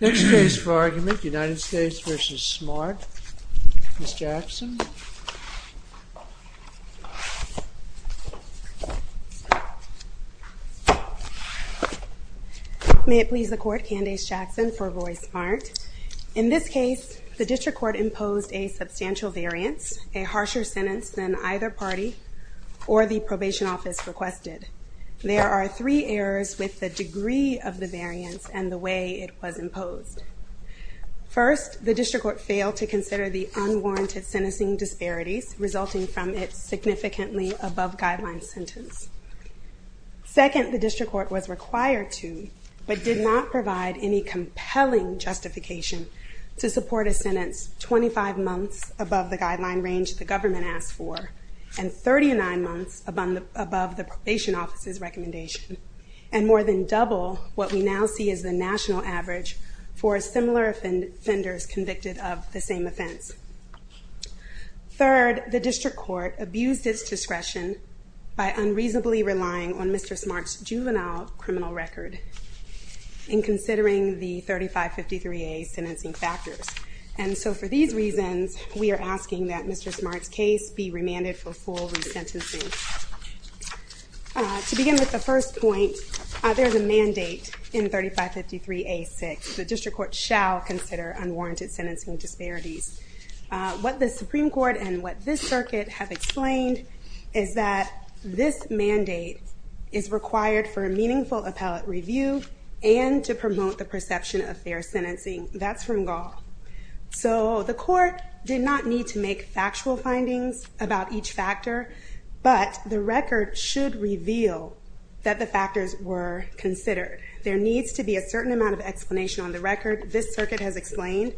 Next case for argument, United States v. Smart, Ms. Jackson. May it please the Court, Candace Jackson for Roy Smart. In this case, the district court imposed a substantial variance, a harsher sentence than either party or the probation office requested. There are three errors with the degree of the variance and the way it was imposed. First, the district court failed to consider the unwarranted sentencing disparities resulting from its significantly above guideline sentence. Second, the district court was required to, but did not provide any compelling justification to support a sentence 25 months above the guideline range the government asked for and 39 months above the probation office's recommendation, and more than double what we now see as the national average for similar offenders convicted of the same offense. Third, the district court abused its discretion by unreasonably relying on Mr. Smart's juvenile criminal record in considering the 3553A sentencing factors. And so for these reasons, we are asking that Mr. Smart's case be remanded for full resentencing. To begin with the first point, there's a mandate in 3553A-6. The district court shall consider unwarranted sentencing disparities. What the Supreme Court and what this circuit have explained is that this mandate is required for a meaningful appellate review and to promote the perception of fair sentencing. That's Rungall. So the court did not need to make factual findings about each factor, but the record should reveal that the factors were considered. There needs to be a certain amount of explanation on the record this circuit has explained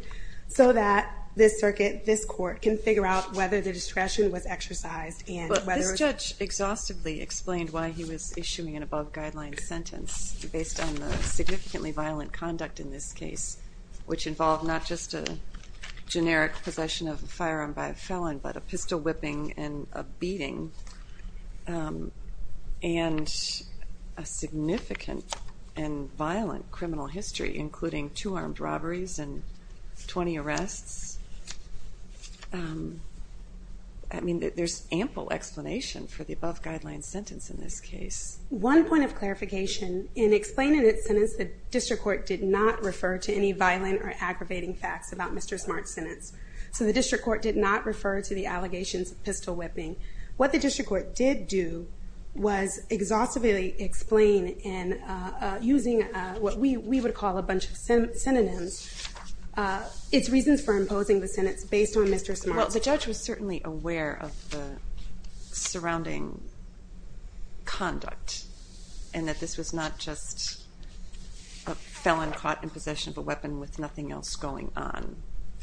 so that this circuit, this court, can figure out whether the discretion was exercised and whether... Judge exhaustively explained why he was issuing an above-guideline sentence based on the significantly violent conduct in this case, which involved not just a generic possession of a firearm by a felon, but a pistol whipping and a beating, and a significant and violent criminal history, including two armed robberies and 20 arrests. I mean, there's ample explanation for the above-guideline sentence in this case. One point of clarification, in explaining its sentence, the district court did not refer to any violent or aggravating facts about Mr. Smart's sentence. So the district court did not refer to the allegations of pistol whipping. What the district court did do was exhaustively explain in using what we would call a bunch of synonyms, its reasons for imposing the sentence based on Mr. Smart's... Well, the judge was certainly aware of the surrounding conduct, and that this was not just a felon caught in possession of a weapon with nothing else going on,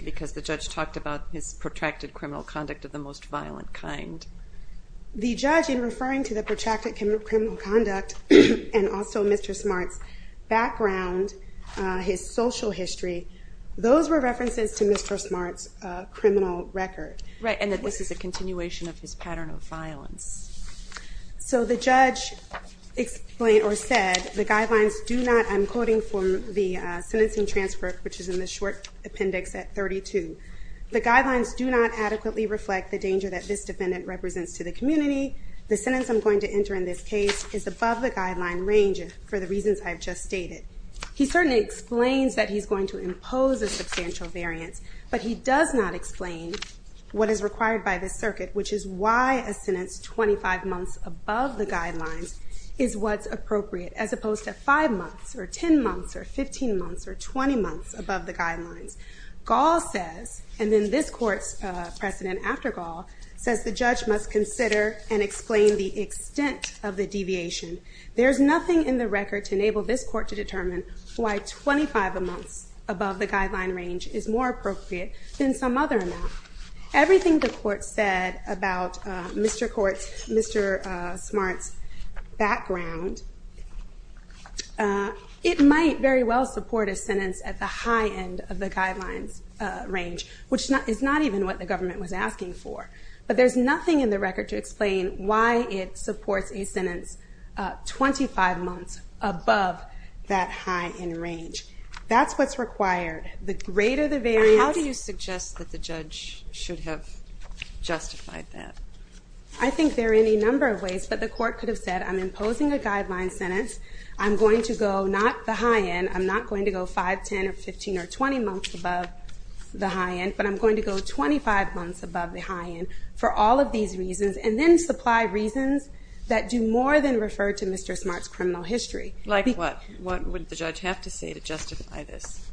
because the judge talked about his protracted criminal conduct of the most violent kind. The judge, in referring to the protracted criminal conduct and also Mr. Smart's background, his social history, those were references to Mr. Smart's criminal record. Right, and that this is a continuation of his pattern of violence. So the judge explained or said the guidelines do not, I'm quoting from the sentencing transfer, which is in the short appendix at 32. The guidelines do not adequately reflect the danger that this defendant represents to the community. The sentence I'm going to enter in this case is above the guideline range for the reasons I've just stated. He certainly explains that he's going to impose a substantial variance, but he does not explain what is required by this circuit, which is why a sentence 25 months above the guidelines is what's appropriate, as opposed to 5 months or 10 months or 15 months or 20 months above the guidelines. Gall says, and then this court's precedent after Gall, says the judge must consider and explain the extent of the deviation. There's nothing in the record to enable this court to determine why 25 months above the guideline range is more appropriate than some other amount. Everything the court said about Mr. Smart's background, it might very well support a sentence at the high end of the guidelines range, which is not even what the government was asking for. But there's nothing in the record to explain why it supports a sentence 25 months above that high end range. That's what's required. How do you suggest that the judge should have justified that? I think there are any number of ways, but the court could have said, I'm imposing a guideline sentence. I'm going to go not the high end. I'm not going to go 5, 10 or 15 or 20 months above the high end, but I'm going to go 25 months above the high end for all of these reasons and then supply reasons that do more than refer to Mr. Smart's criminal history. Like what? What would the judge have to say to justify this?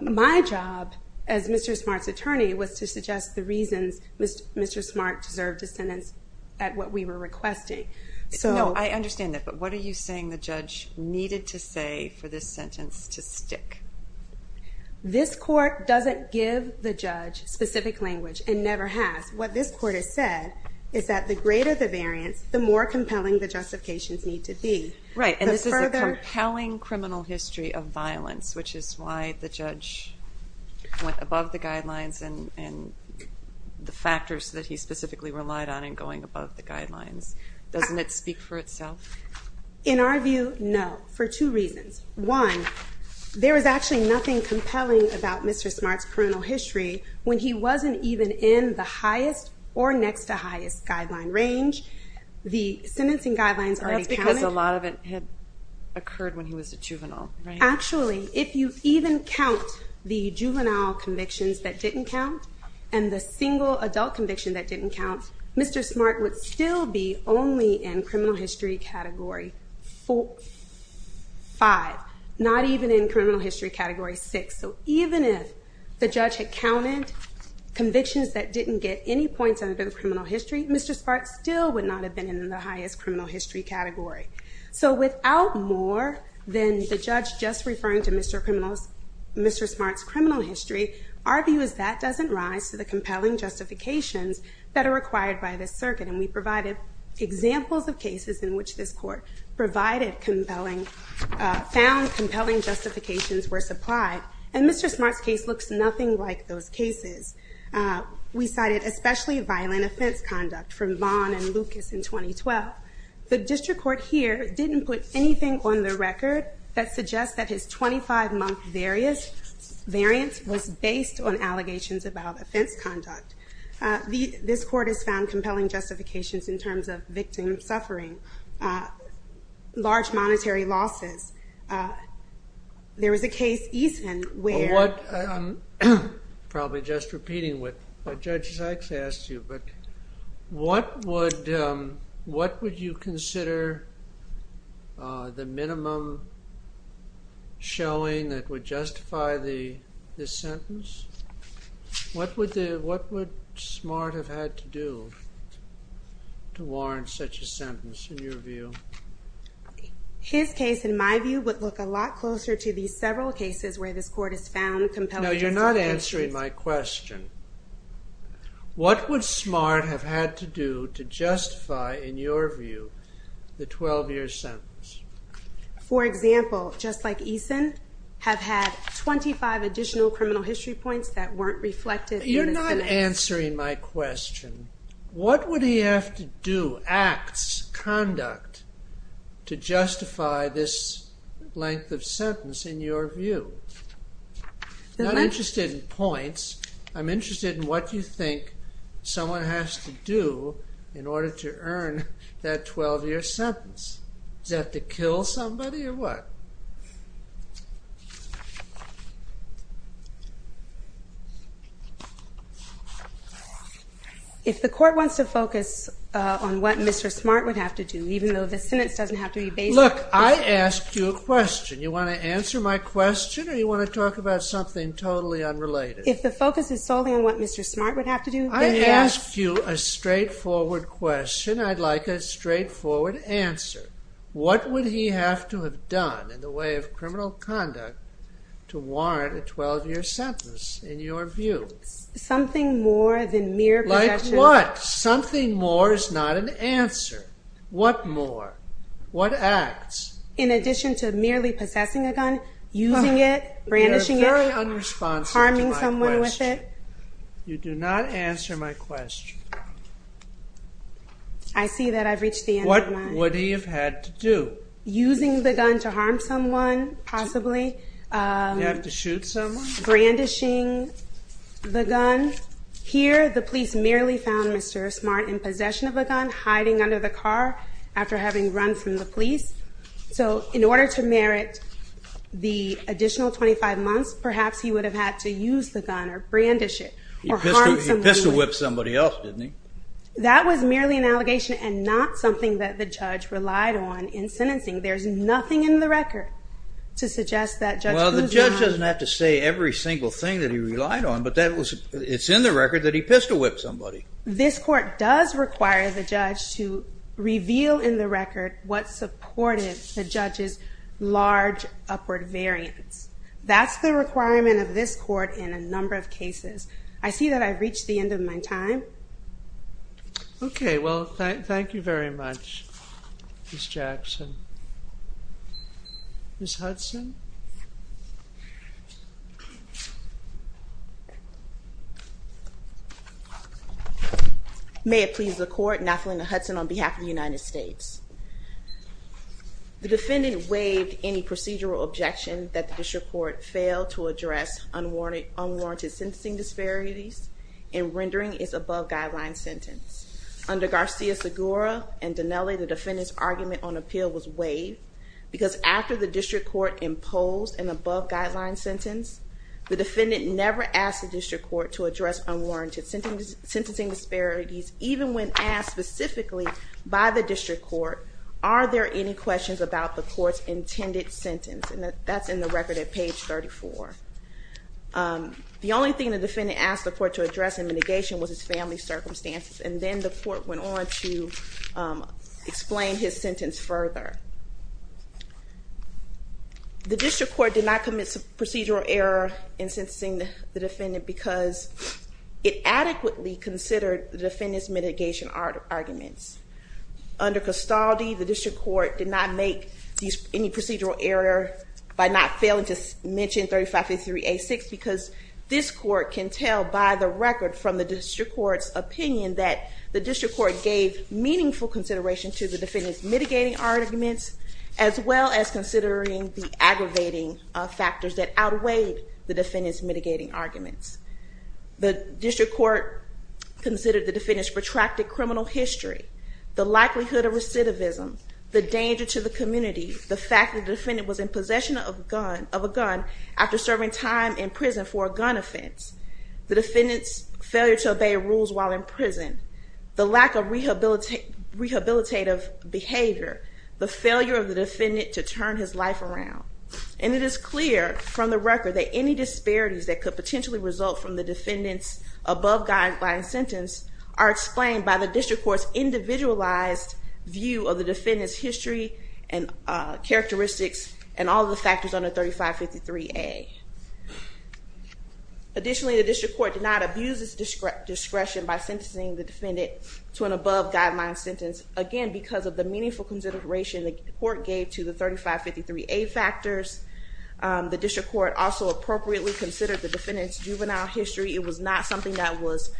My job as Mr. Smart's attorney was to suggest the reasons Mr. Smart deserved a sentence at what we were requesting. I understand that, but what are you saying the judge needed to say for this sentence to stick? This court doesn't give the judge specific language and never has. What this court has said is that the greater the variance, the more compelling the justifications need to be. Right, and this is a compelling criminal history of violence, which is why the judge went above the guidelines and the factors that he specifically relied on in going above the guidelines. Doesn't it speak for itself? In our view, no, for two reasons. One, there is actually nothing compelling about Mr. Smart's criminal history when he wasn't even in the highest or next to highest guideline range. The sentencing guidelines already counted. That's because a lot of it had occurred when he was a juvenile, right? Actually, if you even count the juvenile convictions that didn't count and the single adult conviction that didn't count, Mr. Smart would still be only in criminal history category 5, not even in criminal history category 6. So even if the judge had counted convictions that didn't get any points under the criminal history, Mr. Smart still would not have been in the highest criminal history category. So without more than the judge just referring to Mr. Smart's criminal history, our view is that doesn't rise to the compelling justifications that are required by this circuit. And we provided examples of cases in which this court provided compelling, found compelling justifications were supplied, and Mr. Smart's case looks nothing like those cases. We cited especially violent offense conduct from Vaughn and Lucas in 2012. The district court here didn't put anything on the record that suggests that his 25-month variance was based on allegations about offense conduct. This court has found compelling justifications in terms of victim suffering, large monetary losses. There was a case, Eason, where- I'm probably just repeating what Judge Sykes asked you, but what would you consider the minimum showing that would justify this sentence? What would Smart have had to do to warrant such a sentence in your view? His case, in my view, would look a lot closer to the several cases where this court has found compelling justifications. No, you're not answering my question. What would Smart have had to do to justify, in your view, the 12-year sentence? For example, just like Eason, have had 25 additional criminal history points that weren't reflected in this sentence. You're not answering my question. What would he have to do, acts, conduct, to justify this length of sentence in your view? I'm not interested in points. I'm interested in what you think someone has to do in order to earn that 12-year sentence. Does he have to kill somebody or what? If the court wants to focus on what Mr. Smart would have to do, even though the sentence doesn't have to be based on- Look, I asked you a question. You want to answer my question or you want to talk about something totally unrelated? If the focus is solely on what Mr. Smart would have to do- I asked you a straightforward question. I'd like a straightforward answer. What would he have to have done in the way of criminal conduct to warrant a 12-year sentence, in your view? Something more than mere possession- Like what? Something more is not an answer. What more? What acts? In addition to merely possessing a gun, using it, brandishing it- You are very unresponsive to my question. Harming someone with it. You do not answer my question. I see that I've reached the end of my- What would he have had to do? Using the gun to harm someone, possibly. You have to shoot someone? Brandishing the gun. Here, the police merely found Mr. Smart in possession of a gun, hiding under the car after having run from the police. So, in order to merit the additional 25 months, perhaps he would have had to use the gun or brandish it. He pistol-whipped somebody else, didn't he? That was merely an allegation and not something that the judge relied on in sentencing. There's nothing in the record to suggest that judge- Well, the judge doesn't have to say every single thing that he relied on, but it's in the record that he pistol-whipped somebody. This court does require the judge to reveal in the record what supported the judge's large upward variance. That's the requirement of this court in a number of cases. I see that I've reached the end of my time. Okay, well, thank you very much, Ms. Jackson. Ms. Hudson? May it please the court, Nathalina Hudson on behalf of the United States. The defendant waived any procedural objection that the district court failed to address unwarranted sentencing disparities in rendering its above-guideline sentence. Under Garcia-Segura and Dinelli, the defendant's argument on appeal was waived because after the district court imposed an above-guideline sentence, the defendant never asked the district court to address unwarranted sentencing disparities, even when asked specifically by the district court, are there any questions about the court's intended sentence? And that's in the record at page 34. The only thing the defendant asked the court to address in mitigation was his family's circumstances, and then the court went on to explain his sentence further. The district court did not commit procedural error in sentencing the defendant because it adequately considered the defendant's mitigation arguments. Under Castaldi, the district court did not make any procedural error by not failing to mention 3553A6 because this court can tell by the record from the district court's opinion that the district court gave meaningful consideration to the defendant's mitigating arguments, as well as considering the aggravating factors that outweighed the defendant's mitigating arguments. The district court considered the defendant's protracted criminal history, the likelihood of recidivism, the danger to the community, the fact that the defendant was in possession of a gun after serving time in prison for a gun offense, the defendant's failure to obey rules while in prison, the lack of rehabilitative behavior, the failure of the defendant to turn his life around. And it is clear from the record that any disparities that could potentially result from the defendant's above-guideline sentence are explained by the district court's individualized view of the defendant's history and characteristics and all the factors under 3553A. Additionally, the district court did not abuse its discretion by sentencing the defendant to an above-guideline sentence, again, because of the meaningful consideration the court gave to the 3553A factors. The district court also appropriately considered the defendant's juvenile history. It was not something that was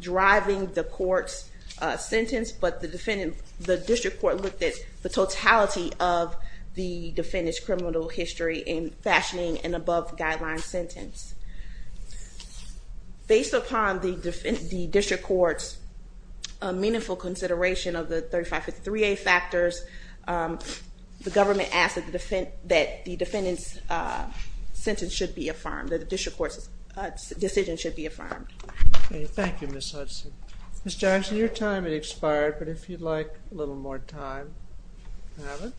driving the court's sentence, but the district court looked at the totality of the defendant's criminal history in fashioning an above-guideline sentence. Based upon the district court's meaningful consideration of the 3553A factors, the government asked that the defendant's sentence should be affirmed, that the district court's decision should be affirmed. Thank you, Ms. Hudson. Ms. Jackson, your time has expired, but if you'd like a little more time, you have it.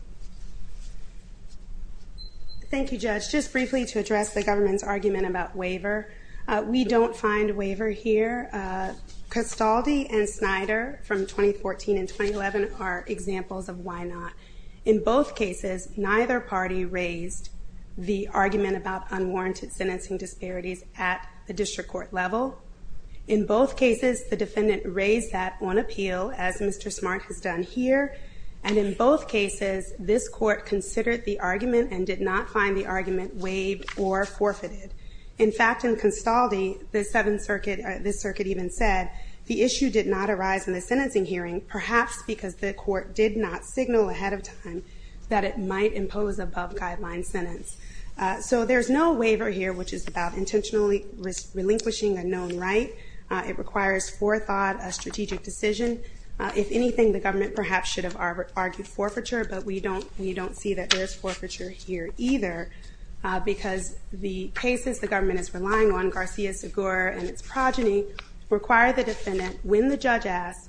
Thank you, Judge. Just briefly to address the government's argument about waiver, we don't find a waiver here. Castaldi and Snyder from 2014 and 2011 are examples of why not. In both cases, neither party raised the argument about unwarranted sentencing disparities at the district court level. In both cases, the defendant raised that on appeal, as Mr. Smart has done here, and in both cases, this court considered the argument and did not find the argument waived or forfeited. In fact, in Castaldi, this circuit even said the issue did not arise in the sentencing hearing, perhaps because the court did not signal ahead of time that it might impose above-guideline sentence. So there's no waiver here, which is about intentionally relinquishing a known right. It requires forethought, a strategic decision. If anything, the government perhaps should have argued forfeiture, but we don't see that there's forfeiture here either because the cases the government is relying on, Garcia-Segur and its progeny, require the defendant, when the judge asks,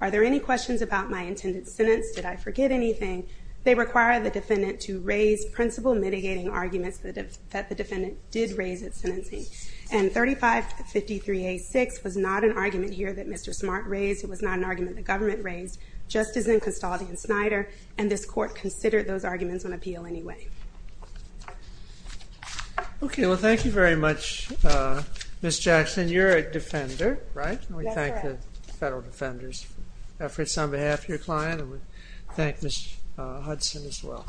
are there any questions about my intended sentence, did I forget anything, they require the defendant to raise principle-mitigating arguments that the defendant did raise at sentencing. And 3553A6 was not an argument here that Mr. Smart raised. It was not an argument the government raised, just as in Castaldi and Snyder, and this court considered those arguments on appeal anyway. Okay, well thank you very much, Ms. Jackson. You're a defender, right? That's correct. We thank the Federal Defender's efforts on behalf of your client, and we thank Ms. Hudson as well.